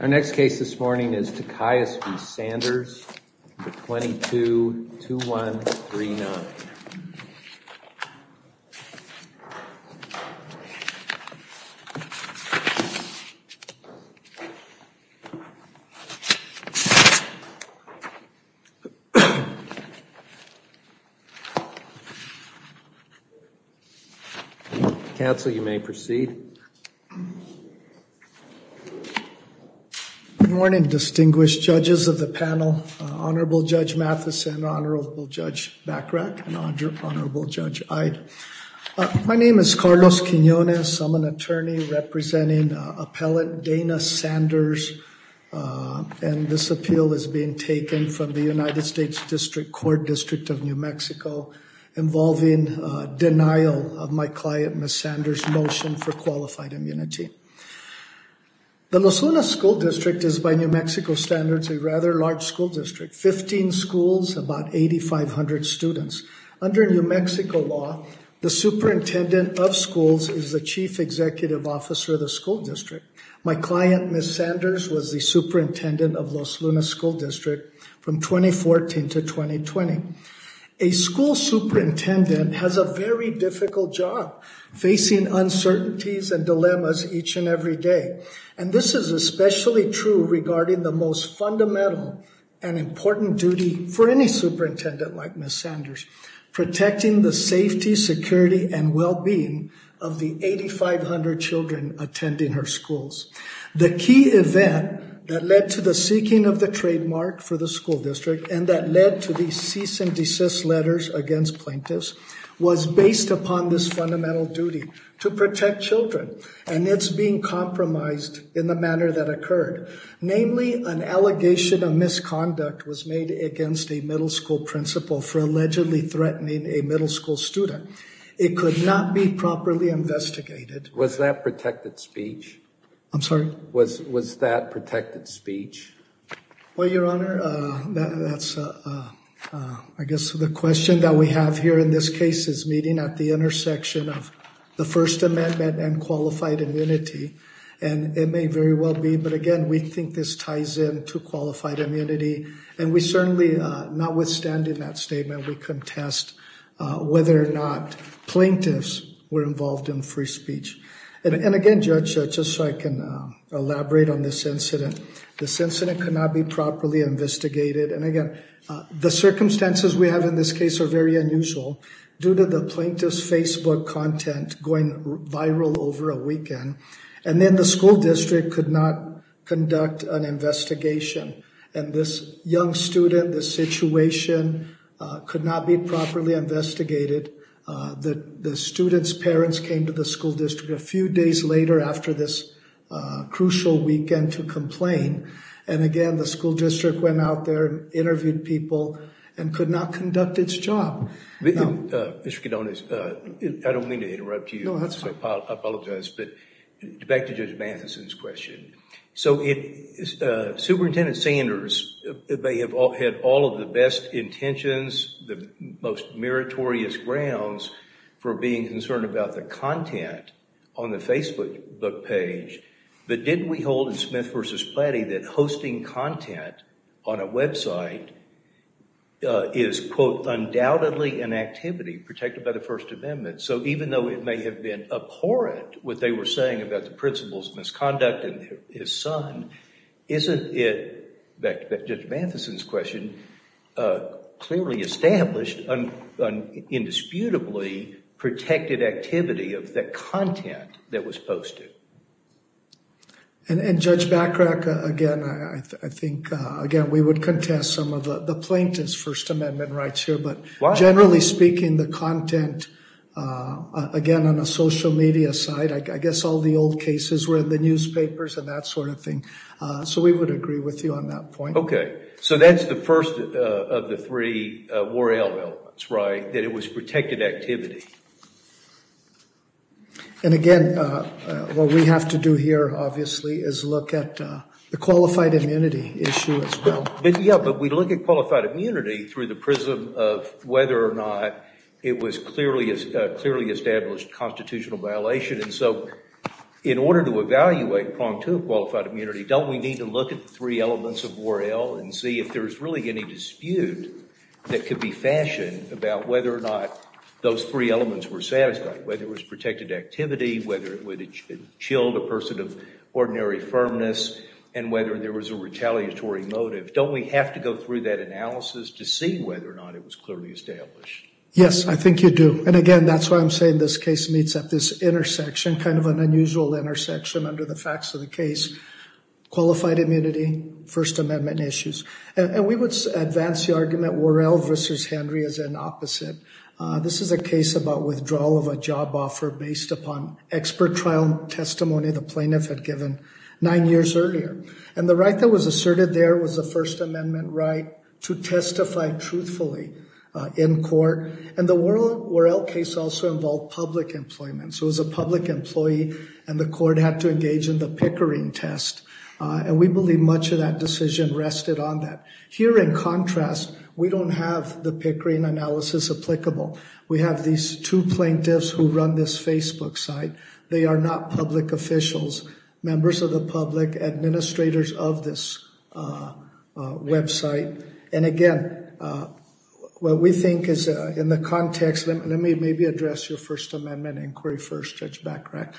Our next case this morning is Tachias v. Sanders, number 22-2139. Counsel, you may proceed. Good morning, distinguished judges of the panel, Honorable Judge Mathison, Honorable Judge Bachrach, and Honorable Judge Ide. My name is Carlos Quinonez. I'm an attorney representing Appellate Dana Sanders, and this appeal is being taken from the United States District Court, District of New Mexico, involving denial of my client, Ms. Sanders' motion for qualified immunity. The Los Lunas School District is, by New Mexico standards, a rather large school district. Fifteen schools, about 8,500 students. Under New Mexico law, the superintendent of schools is the chief executive officer of the school district. My client, Ms. Sanders, was the superintendent of Los Lunas School District from 2014 to 2020. A school superintendent has a very difficult job facing uncertainties and dilemmas each and every day, and this is especially true regarding the most fundamental and important duty for any superintendent like Ms. Sanders, protecting the safety, security, and well-being of the 8,500 children attending her schools. The key event that led to the seeking of the trademark for the school district and that led to the cease and desist letters against plaintiffs was based upon this fundamental duty to protect children, and it's being compromised in the manner that occurred. Namely, an allegation of misconduct was made against a middle school principal for allegedly threatening a middle school student. It could not be properly investigated. Was that protected speech? I'm sorry? Was that protected speech? Well, Your Honor, I guess the question that we have here in this case is meeting at the intersection of the First Amendment and qualified immunity, and it may very well be, but again, we think this ties in to qualified immunity, and we certainly, notwithstanding that statement, we contest whether or not plaintiffs were involved in free speech. And again, Judge, just so I can elaborate on this incident, this incident could not be properly investigated, and again, the circumstances we have in this case are very unusual. Due to the plaintiff's Facebook content going viral over a weekend, and then the school district could not conduct an investigation, and this young student, this situation could not be properly investigated. The student's parents came to the school district a few days later after this crucial weekend to complain, and again, the school district went out there and interviewed people and could not conduct its job. Mr. Kidone, I don't mean to interrupt you. No, that's fine. I apologize, but back to Judge Matheson's question. So, Superintendent Sanders may have had all of the best intentions, the most meritorious grounds for being concerned about the content on the Facebook page, but didn't we hold in Smith v. Plattie that hosting content on a website is, quote, undoubtedly an activity protected by the First Amendment? So, even though it may have been abhorrent what they were saying about the principal's misconduct and his son, isn't it, back to Judge Matheson's question, clearly established an indisputably protected activity of the content that was posted? And Judge Bachrach, again, I think, again, we would contest some of the plaintiff's First Amendment rights here, but generally speaking, the content, again, on a social media site, I guess all the old cases were in the newspapers and that sort of thing. So, we would agree with you on that point. Okay. So, that's the first of the three more elements, right, that it was protected activity. And again, what we have to do here, obviously, is look at the qualified immunity issue as well. But, yeah, but we look at qualified immunity through the prism of whether or not it was clearly established constitutional violation. And so, in order to evaluate prong two of qualified immunity, don't we need to look at the three elements of 4L and see if there's really any dispute that could be fashioned about whether or not those three elements were satisfied, whether it was protected activity, whether it chilled a person of ordinary firmness, and whether there was a retaliatory motive. Don't we have to go through that analysis to see whether or not it was clearly established? Yes, I think you do. And, again, that's why I'm saying this case meets at this intersection, kind of an unusual intersection under the facts of the case, qualified immunity, First Amendment issues. And we would advance the argument 4L versus Henry as an opposite. This is a case about withdrawal of a job offer based upon expert trial testimony the plaintiff had given nine years earlier. And the right that was asserted there was a First Amendment right to testify truthfully in court. And the 4L case also involved public employment. So it was a public employee, and the court had to engage in the Pickering test. And we believe much of that decision rested on that. Here, in contrast, we don't have the Pickering analysis applicable. We have these two plaintiffs who run this Facebook site. They are not public officials, members of the public, administrators of this website. And, again, what we think is in the context, let me maybe address your First Amendment inquiry first, Judge Bachrach.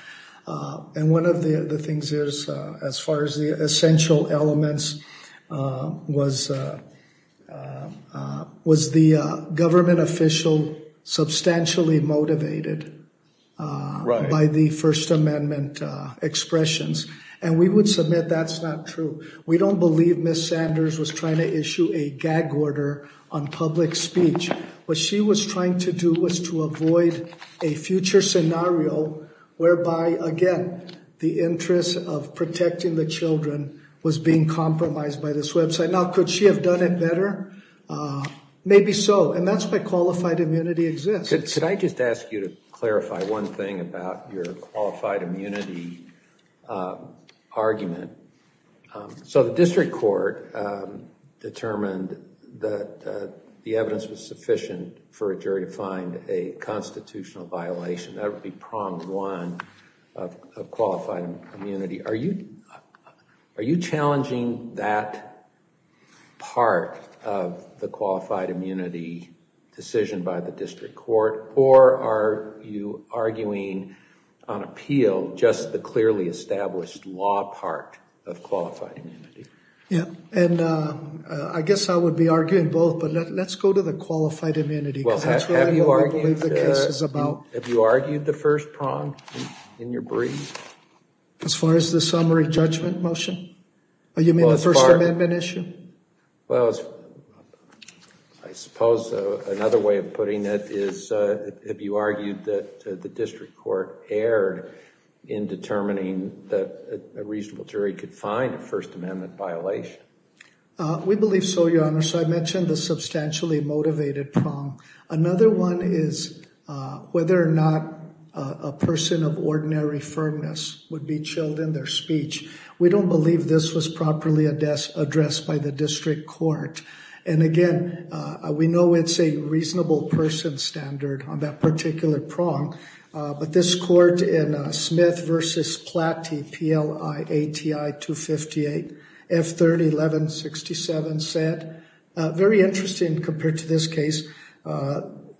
And one of the things is, as far as the essential elements, was the government official substantially motivated by the First Amendment expressions. And we would submit that's not true. We don't believe Ms. Sanders was trying to issue a gag order on public speech. What she was trying to do was to avoid a future scenario whereby, again, the interest of protecting the children was being compromised by this website. Now, could she have done it better? Maybe so. And that's why qualified immunity exists. Could I just ask you to clarify one thing about your qualified immunity argument? So the district court determined that the evidence was sufficient for a jury to find a constitutional violation. That would be prong one of qualified immunity. Are you challenging that part of the qualified immunity decision by the district court? Or are you arguing on appeal just the clearly established law part of qualified immunity? Yeah. And I guess I would be arguing both. But let's go to the qualified immunity because that's what I believe the case is about. Have you argued the first prong in your brief? As far as the summary judgment motion? You mean the First Amendment issue? Well, I suppose another way of putting it is have you argued that the district court erred in determining that a reasonable jury could find a First Amendment violation? We believe so, Your Honor. So I mentioned the substantially motivated prong. Another one is whether or not a person of ordinary firmness would be chilled in their speech. We don't believe this was properly addressed by the district court. And, again, we know it's a reasonable person standard on that particular prong. But this court in Smith v. Platte, P-L-I-A-T-I 258, F-30 1167, said, Very interesting compared to this case.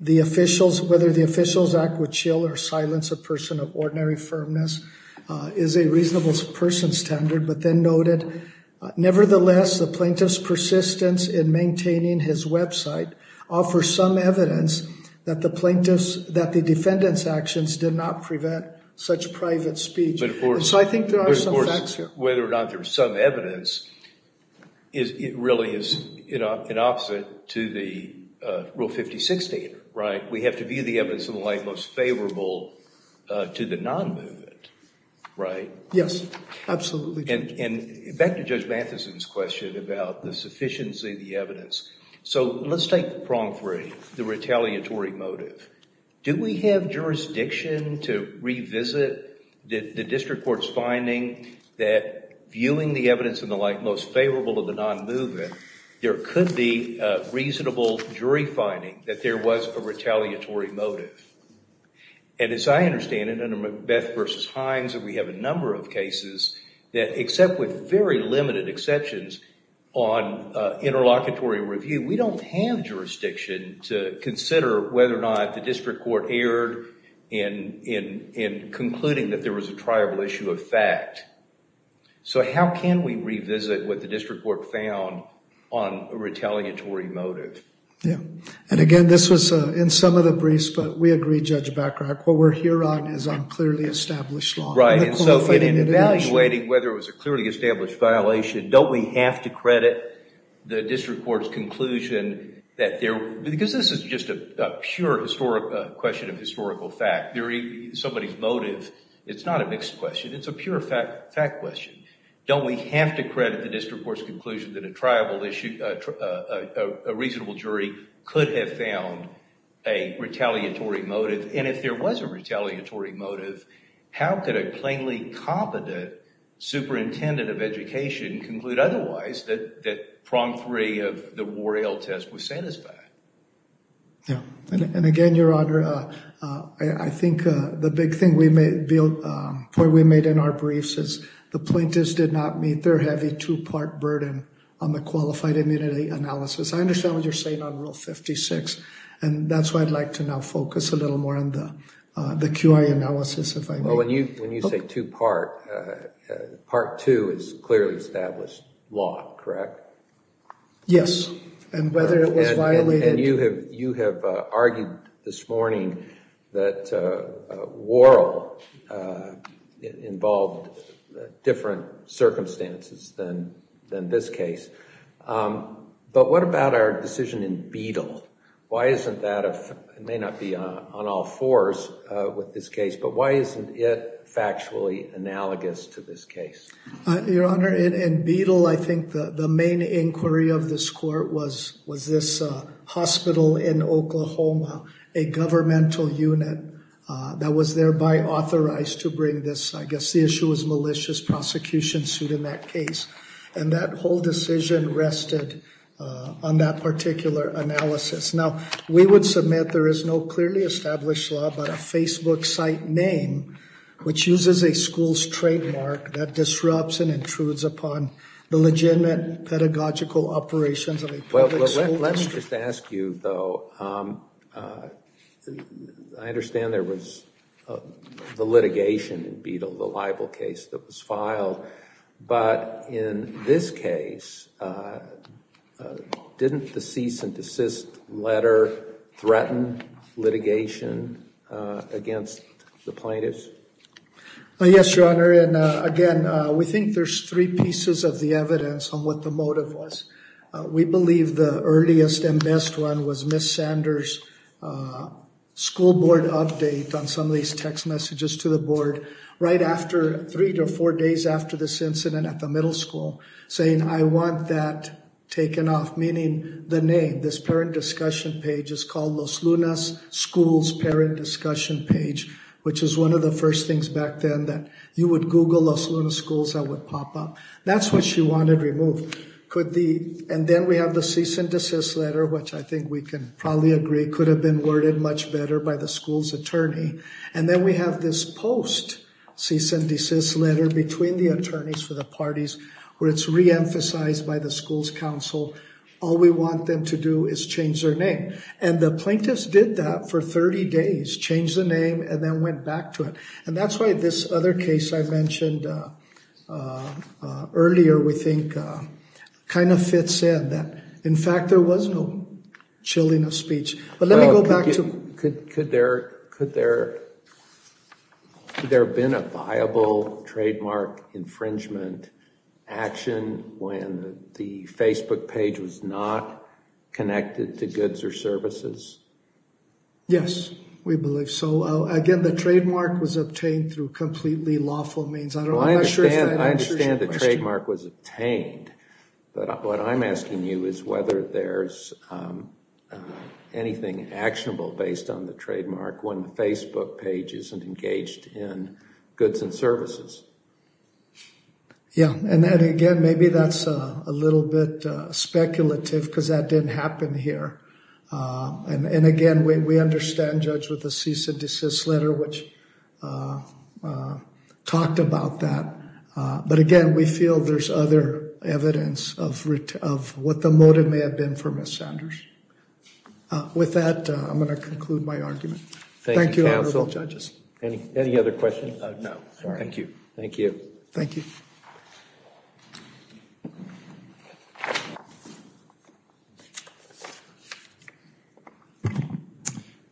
The officials, whether the officials act with chill or silence a person of ordinary firmness, is a reasonable person standard, but then noted, Nevertheless, the plaintiff's persistence in maintaining his website offers some evidence that the defendant's actions did not prevent such private speech. So I think there are some facts here. But, of course, whether or not there's some evidence, it really is an opposite to the Rule 5016, right? We have to view the evidence in the light most favorable to the non-movement, right? Yes, absolutely. And back to Judge Matheson's question about the sufficiency of the evidence. So let's take prong three, the retaliatory motive. Do we have jurisdiction to revisit the district court's finding that viewing the evidence in the light most favorable to the non-movement, there could be a reasonable jury finding that there was a retaliatory motive? And as I understand it, under Beth v. Hines, we have a number of cases that, except with very limited exceptions on interlocutory review, we don't have jurisdiction to consider whether or not the district court erred in concluding that there was a triable issue of fact. So how can we revisit what the district court found on a retaliatory motive? Yeah, and again, this was in some of the briefs, but we agree, Judge Bachrach, what we're here on is on clearly established law. Right, and so in evaluating whether it was a clearly established violation, don't we have to credit the district court's conclusion that there, because this is just a pure question of historical fact, somebody's motive. It's not a mixed question. It's a pure fact question. Don't we have to credit the district court's conclusion that a triable issue, a reasonable jury, could have found a retaliatory motive? And if there was a retaliatory motive, how could a plainly competent superintendent of education conclude otherwise, that prong three of the Warale test was satisfied? Yeah, and again, Your Honor, I think the big point we made in our briefs is the plaintiffs did not meet their heavy two-part burden on the qualified immunity analysis. I understand what you're saying on Rule 56, and that's why I'd like to now focus a little more on the QI analysis, if I may. Well, when you say two-part, part two is clearly established law, correct? Yes, and whether it was violated. And you have argued this morning that Warale involved different circumstances than this case. But what about our decision in Beadle? Why isn't that, it may not be on all fours with this case, but why isn't it factually analogous to this case? Your Honor, in Beadle, I think the main inquiry of this court was this hospital in Oklahoma, a governmental unit that was thereby authorized to bring this, I guess the issue was malicious prosecution suit in that case. And that whole decision rested on that particular analysis. Now, we would submit there is no clearly established law, but a Facebook site name, which uses a school's trademark that disrupts and intrudes upon the legitimate pedagogical operations of a public school teacher. Let's just ask you, though, I understand there was the litigation in Beadle, the libel case that was filed. But in this case, didn't the cease and desist letter threaten litigation against the plaintiffs? Yes, Your Honor, and again, we think there's three pieces of the evidence on what the motive was. We believe the earliest and best one was Ms. Sanders' school board update on some of these text messages to the board. Right after, three to four days after this incident at the middle school, saying I want that taken off, meaning the name. This parent discussion page is called Los Lunas Schools Parent Discussion Page, which is one of the first things back then that you would Google Los Lunas Schools that would pop up. That's what she wanted removed. And then we have the cease and desist letter, which I think we can probably agree could have been worded much better by the school's attorney. And then we have this post cease and desist letter between the attorneys for the parties where it's reemphasized by the school's counsel. All we want them to do is change their name. And the plaintiffs did that for 30 days, changed the name and then went back to it. And that's why this other case I mentioned earlier, we think kind of fits in that. In fact, there was no chilling of speech. Could there have been a viable trademark infringement action when the Facebook page was not connected to goods or services? Yes, we believe so. Again, the trademark was obtained through completely lawful means. I understand the trademark was obtained. But what I'm asking you is whether there's anything actionable based on the trademark when the Facebook page isn't engaged in goods and services. Yeah. And then again, maybe that's a little bit speculative because that didn't happen here. And again, we understand, Judge, with the cease and desist letter, which talked about that. But again, we feel there's other evidence of what the motive may have been for Ms. Sanders. With that, I'm going to conclude my argument. Thank you, Honorable Judges. Any other questions? No, thank you. Thank you. Thank you. Good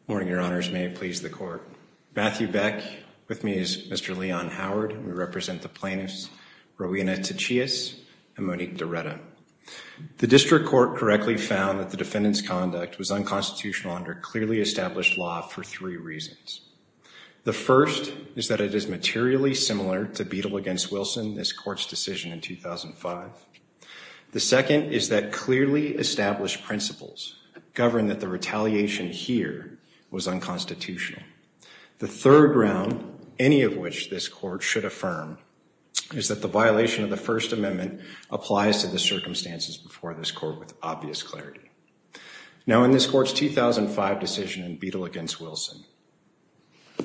morning, Your Honors. May it please the Court. Matthew Beck. With me is Mr. Leon Howard. We represent the plaintiffs, Rowena Tachias and Monique DiRetta. The District Court correctly found that the defendant's conduct was unconstitutional under clearly established law for three reasons. The first is that it is materially similar to Beadle v. Wilson, this Court's decision in 2005. The second is that clearly established principles govern that the retaliation here was unconstitutional. The third ground, any of which this Court should affirm, is that the violation of the First Amendment applies to the circumstances before this Court with obvious clarity. Now, in this Court's 2005 decision in Beadle v. Wilson,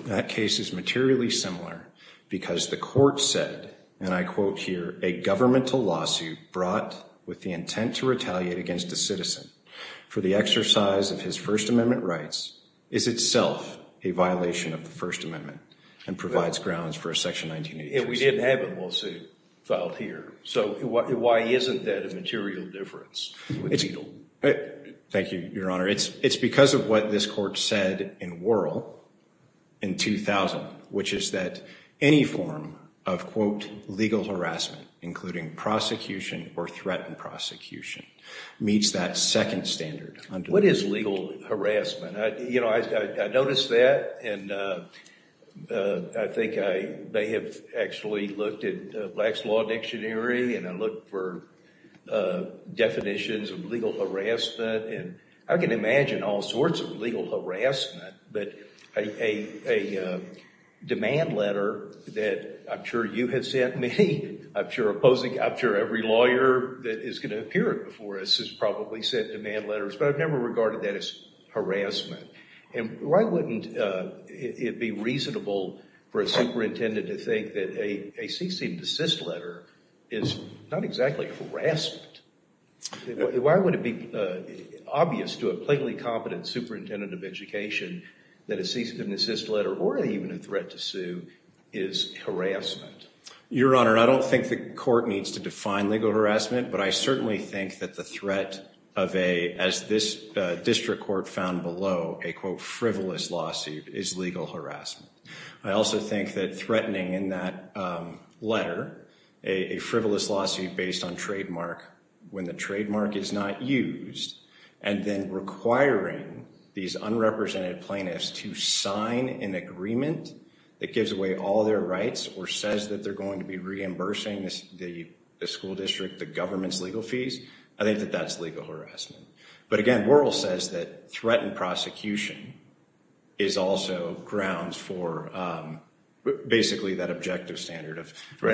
that case is materially similar because the Court said, and I quote here, a governmental lawsuit brought with the intent to retaliate against a citizen for the exercise of his First Amendment rights is itself a violation of the First Amendment and provides grounds for a Section 1982 statute. We didn't have a lawsuit filed here, so why isn't that a material difference with Beadle? Thank you, Your Honor. It's because of what this Court said in Worrell in 2000, which is that any form of, quote, legal harassment, including prosecution or threatened prosecution, meets that second standard. What is legal harassment? You know, I noticed that and I think I may have actually looked at Black's Law Dictionary and I looked for definitions of legal harassment. I can imagine all sorts of legal harassment, but a demand letter that I'm sure you have sent me, I'm sure opposing, I'm sure every lawyer that is going to appear before us has probably sent demand letters, but I've never regarded that as harassment. And why wouldn't it be reasonable for a superintendent to think that a cease and desist letter is not exactly harassment? Why would it be obvious to a plainly competent superintendent of education that a cease and desist letter or even a threat to sue is harassment? Your Honor, I don't think the Court needs to define legal harassment, but I certainly think that the threat of a, as this district court found below, a, quote, frivolous lawsuit is legal harassment. I also think that threatening in that letter a frivolous lawsuit based on trademark when the trademark is not used and then requiring these unrepresented plaintiffs to sign an agreement that gives away all their rights or says that they're going to be reimbursing the school district, the government's legal fees, I think that that's legal harassment. But again, Wuerl says that threatened prosecution is also grounds for basically that objective standard of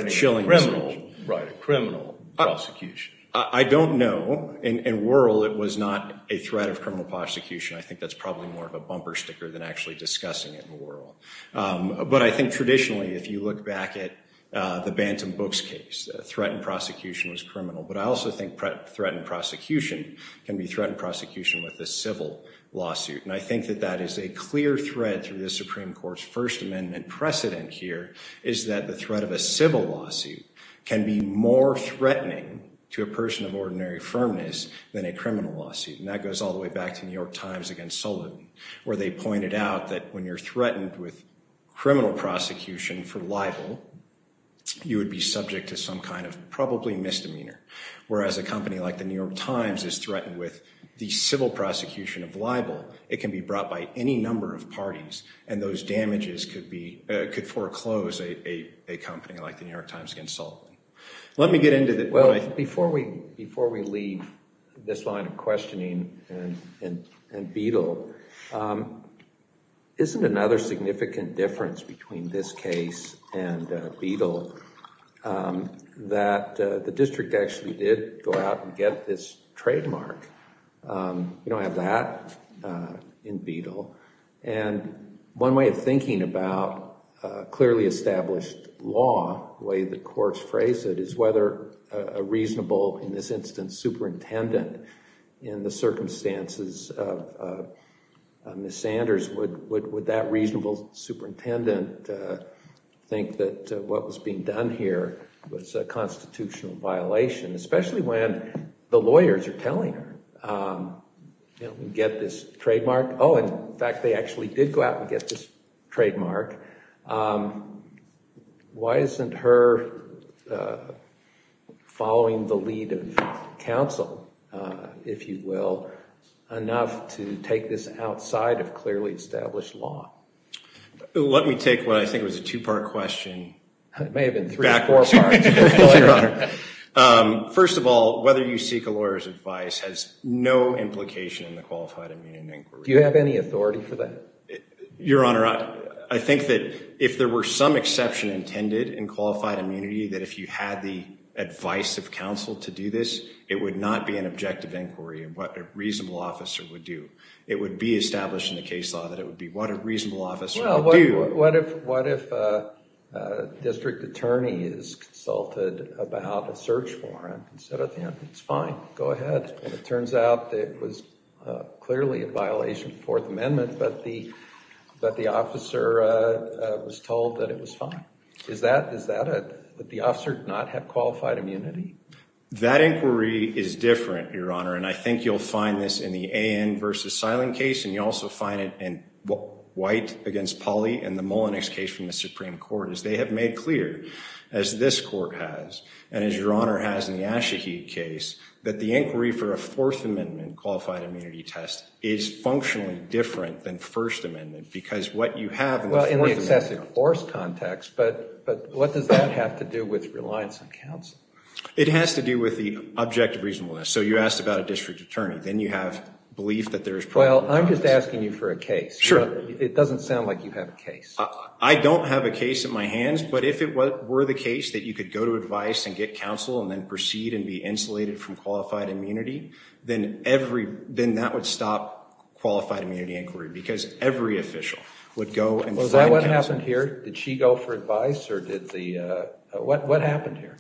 chilling. Threatening a criminal, right, a criminal prosecution. I don't know. In Wuerl, it was not a threat of criminal prosecution. I think that's probably more of a bumper sticker than actually discussing it in Wuerl. But I think traditionally, if you look back at the Bantam Books case, threatened prosecution was criminal. But I also think threatened prosecution can be threatened prosecution with a civil lawsuit. And I think that that is a clear thread through the Supreme Court's First Amendment precedent here, is that the threat of a civil lawsuit can be more threatening to a person of ordinary firmness than a criminal lawsuit. And that goes all the way back to New York Times against Sullivan, where they pointed out that when you're threatened with criminal prosecution for libel, you would be subject to some kind of probably misdemeanor. Whereas a company like the New York Times is threatened with the civil prosecution of libel, it can be brought by any number of parties and those damages could foreclose a company like the New York Times against Sullivan. Let me get into that. Well, before we leave this line of questioning and Beadle, isn't another significant difference between this case and Beadle that the district actually did go out and get this trademark? You don't have that in Beadle. And one way of thinking about clearly established law, the way the courts phrase it, is whether a reasonable, in this instance, superintendent in the circumstances of Ms. Sanders, would that reasonable superintendent think that what was being done here was a constitutional violation, especially when the lawyers are telling her, you know, get this trademark. Oh, in fact, they actually did go out and get this trademark. Why isn't her following the lead of counsel, if you will, enough to take this outside of clearly established law? Let me take what I think was a two-part question. It may have been three or four parts, Your Honor. First of all, whether you seek a lawyer's advice has no implication in the qualified immunity inquiry. Do you have any authority for that? Your Honor, I think that if there were some exception intended in qualified immunity, that if you had the advice of counsel to do this, it would not be an objective inquiry of what a reasonable officer would do. It would be established in the case law that it would be what a reasonable officer would do. What if a district attorney is consulted about a search warrant and said, you know, it's fine, go ahead, and it turns out that it was clearly a violation of the Fourth Amendment, but the officer was told that it was fine. Would the officer not have qualified immunity? That inquiry is different, Your Honor, and I think you'll find this in the A.N. versus Seiling case, and you'll also find it in White against Pawley and the Mullenix case from the Supreme Court, as they have made clear, as this court has, and as Your Honor has in the Ashaheed case, that the inquiry for a Fourth Amendment qualified immunity test is functionally different than First Amendment, because what you have in the Fourth Amendment – Well, in the excessive force context, but what does that have to do with reliance on counsel? It has to do with the objective reasonableness. So you asked about a district attorney. Then you have belief that there is – Well, I'm just asking you for a case. Sure. It doesn't sound like you have a case. I don't have a case at my hands, but if it were the case that you could go to advice and get counsel and then proceed and be insulated from qualified immunity, then that would stop qualified immunity inquiry, because every official would go and find counsel. Well, is that what happened here? Did she go for advice, or did the – what happened here?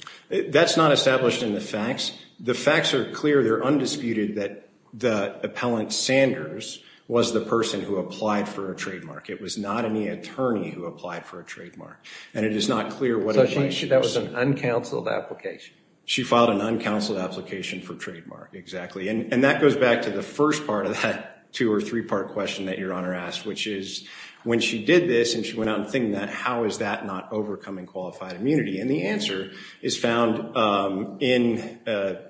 That's not established in the facts. The facts are clear. They're undisputed that the appellant, Sanders, was the person who applied for a trademark. It was not any attorney who applied for a trademark. And it is not clear what – So that was an uncounseled application. She filed an uncounseled application for trademark, exactly. And that goes back to the first part of that two- or three-part question that Your Honor asked, which is when she did this and she went out and thinking that, how is that not overcoming qualified immunity? And the answer is found in the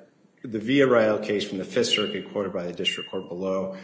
Villarreal case from the Fifth Circuit quoted by the district court below,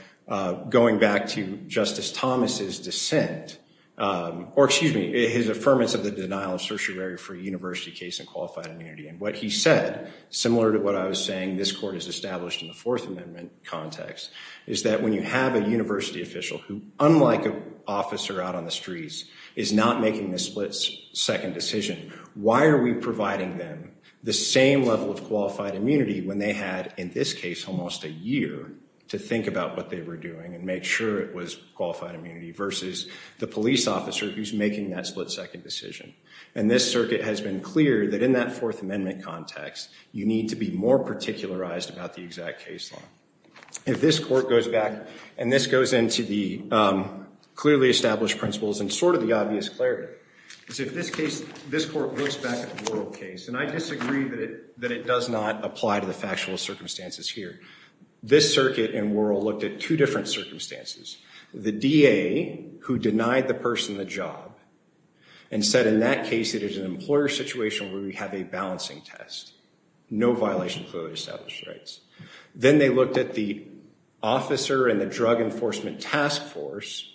going back to Justice Thomas's dissent – or, excuse me, his affirmance of the denial of certiorari for a university case in qualified immunity. And what he said, similar to what I was saying this court has established in the Fourth Amendment context, is that when you have a university official who, unlike an officer out on the streets, is not making the split-second decision, why are we providing them the same level of qualified immunity when they had, in this case, almost a year to think about what they were doing and make sure it was qualified immunity versus the police officer who's making that split-second decision? And this circuit has been clear that in that Fourth Amendment context, you need to be more particularized about the exact case law. If this court goes back, and this goes into the clearly established principles and sort of the obvious clarity, is if this court looks back at the Worrell case, and I disagree that it does not apply to the factual circumstances here, this circuit and Worrell looked at two different circumstances. The DA who denied the person the job and said in that case it is an employer situation where we have a balancing test, no violation of clearly established rights. Then they looked at the officer in the Drug Enforcement Task Force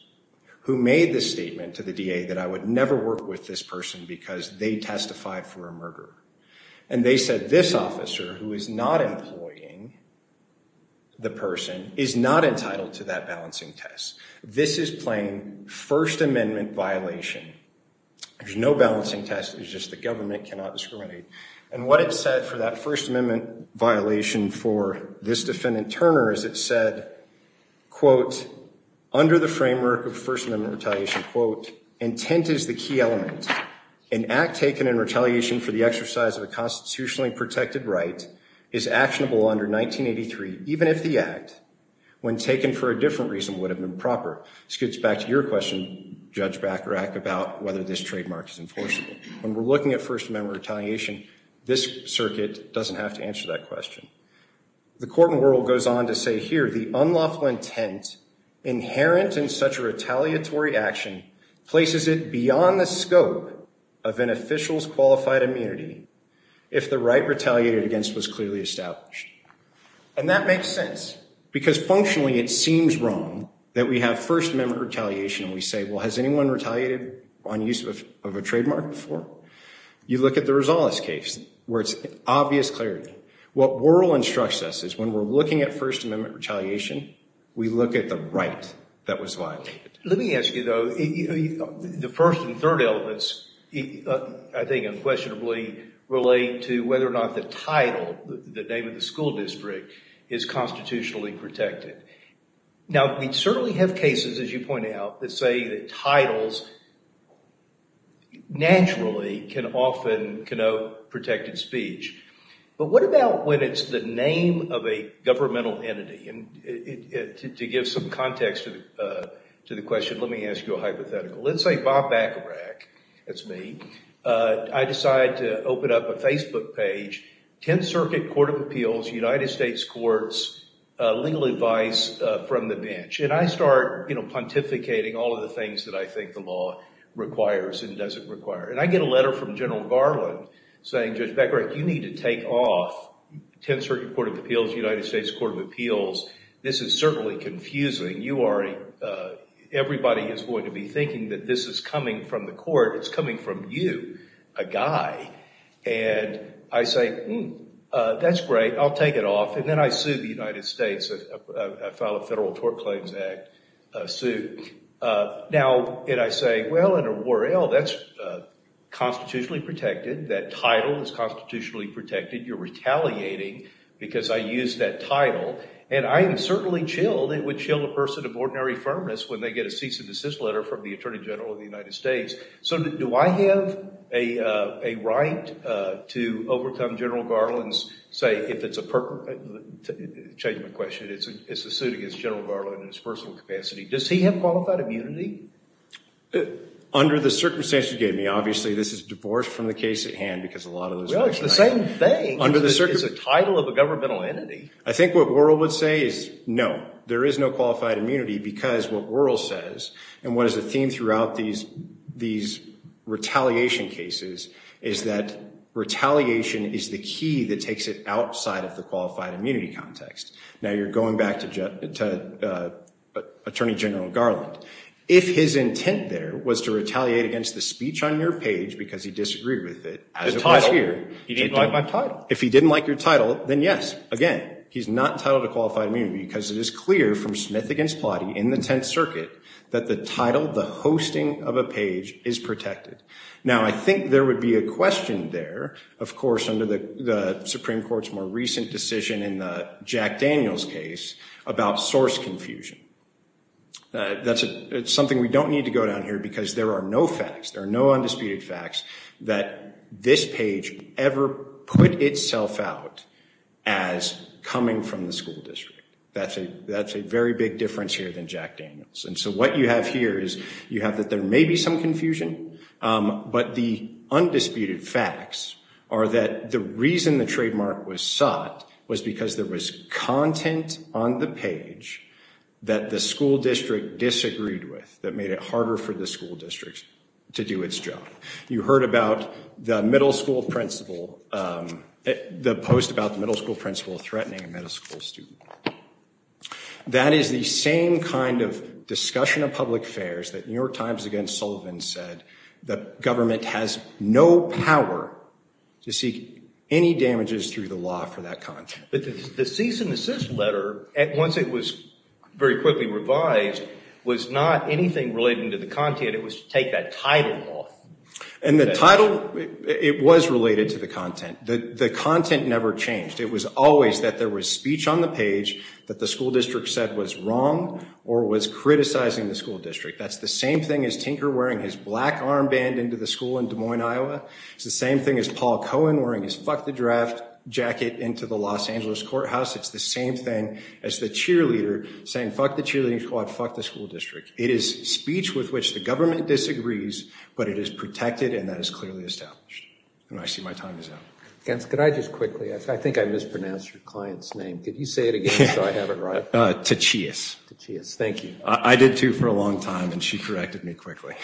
who made the statement to the DA that I would never work with this person because they testified for a murderer. And they said this officer, who is not employing the person, is not entitled to that balancing test. This is plain First Amendment violation. There's no balancing test, it's just the government cannot discriminate. And what it said for that First Amendment violation for this defendant, Turner, is it said, quote, under the framework of First Amendment retaliation, quote, intent is the key element. An act taken in retaliation for the exercise of a constitutionally protected right is actionable under 1983, even if the act, when taken for a different reason, would have been proper. This gets back to your question, Judge Bacharach, about whether this trademark is enforceable. When we're looking at First Amendment retaliation, this circuit doesn't have to answer that question. The court in the world goes on to say here, the unlawful intent inherent in such a retaliatory action places it beyond the scope of an official's qualified immunity if the right retaliated against was clearly established. And that makes sense because functionally it seems wrong that we have First Amendment retaliation and we say, well, has anyone retaliated on use of a trademark before? You look at the Rosales case where it's obvious clarity. What Worrell instructs us is when we're looking at First Amendment retaliation, we look at the right that was violated. Let me ask you, though, the first and third elements, I think unquestionably, relate to whether or not the title, the name of the school district, is constitutionally protected. Now, we certainly have cases, as you point out, that say that titles naturally can often connote protected speech. But what about when it's the name of a governmental entity? And to give some context to the question, let me ask you a hypothetical. Let's say Bob Bacharach, that's me, I decide to open up a Facebook page, 10th Circuit Court of Appeals, United States Courts, legal advice from the bench. And I start pontificating all of the things that I think the law requires and doesn't require. And I get a letter from General Garland saying, Judge Bacharach, you need to take off 10th Circuit Court of Appeals, United States Court of Appeals. This is certainly confusing. You are a – everybody is going to be thinking that this is coming from the court. It's coming from you, a guy. And I say, hmm, that's great. I'll take it off. And then I sue the United States. I file a Federal Tort Claims Act suit. Now, and I say, well, under Worrell, that's constitutionally protected. That title is constitutionally protected. You're retaliating because I used that title. And I am certainly chilled. It would chill a person of ordinary firmness when they get a cease and desist letter from the Attorney General of the United States. So do I have a right to overcome General Garland's, say, if it's a – to change my question, it's a suit against General Garland in his personal capacity. Does he have qualified immunity? Under the circumstances you gave me, obviously, this is divorced from the case at hand because a lot of those – Well, it's the same thing. Under the – It's a title of a governmental entity. I think what Worrell would say is no, there is no qualified immunity because what Worrell says and what is the theme throughout these retaliation cases is that retaliation is the key that takes it outside of the qualified immunity context. Now, you're going back to Attorney General Garland. If his intent there was to retaliate against the speech on your page because he disagreed with it as it was here – The title. He didn't like my title. If he didn't like your title, then yes, again, he's not entitled to qualified immunity because it is clear from Smith v. Plotty in the Tenth Circuit that the title, the hosting of a page, is protected. Now, I think there would be a question there, of course, under the Supreme Court's more recent decision in Jack Daniels' case about source confusion. That's something we don't need to go down here because there are no facts. that this page ever put itself out as coming from the school district. That's a very big difference here than Jack Daniels. And so what you have here is you have that there may be some confusion, but the undisputed facts are that the reason the trademark was sought was because there was content on the page that the school district disagreed with that made it harder for the school district to do its job. You heard about the middle school principal, the post about the middle school principal threatening a middle school student. That is the same kind of discussion of public affairs that New York Times against Sullivan said that government has no power to seek any damages through the law for that content. The cease and desist letter, once it was very quickly revised, was not anything related to the content. It was to take that title off. And the title, it was related to the content. The content never changed. It was always that there was speech on the page that the school district said was wrong or was criticizing the school district. That's the same thing as Tinker wearing his black armband into the school in Des Moines, Iowa. It's the same thing as Paul Cohen wearing his fuck the draft jacket into the Los Angeles courthouse. It's the same thing as the cheerleader saying fuck the cheerleading squad, fuck the school district. It is speech with which the government disagrees, but it is protected and that is clearly established. And I see my time is up. Counsel, could I just quickly, I think I mispronounced your client's name. Could you say it again so I have it right? Tachias. Tachias, thank you. I did too for a long time and she corrected me quickly.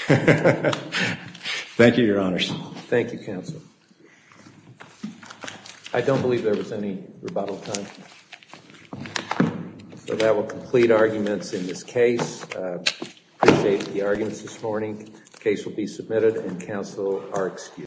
Thank you, Your Honors. Thank you, Counsel. I don't believe there was any rebuttal time. So that will complete arguments in this case. I appreciate the arguments this morning. The case will be submitted and counsel are excused.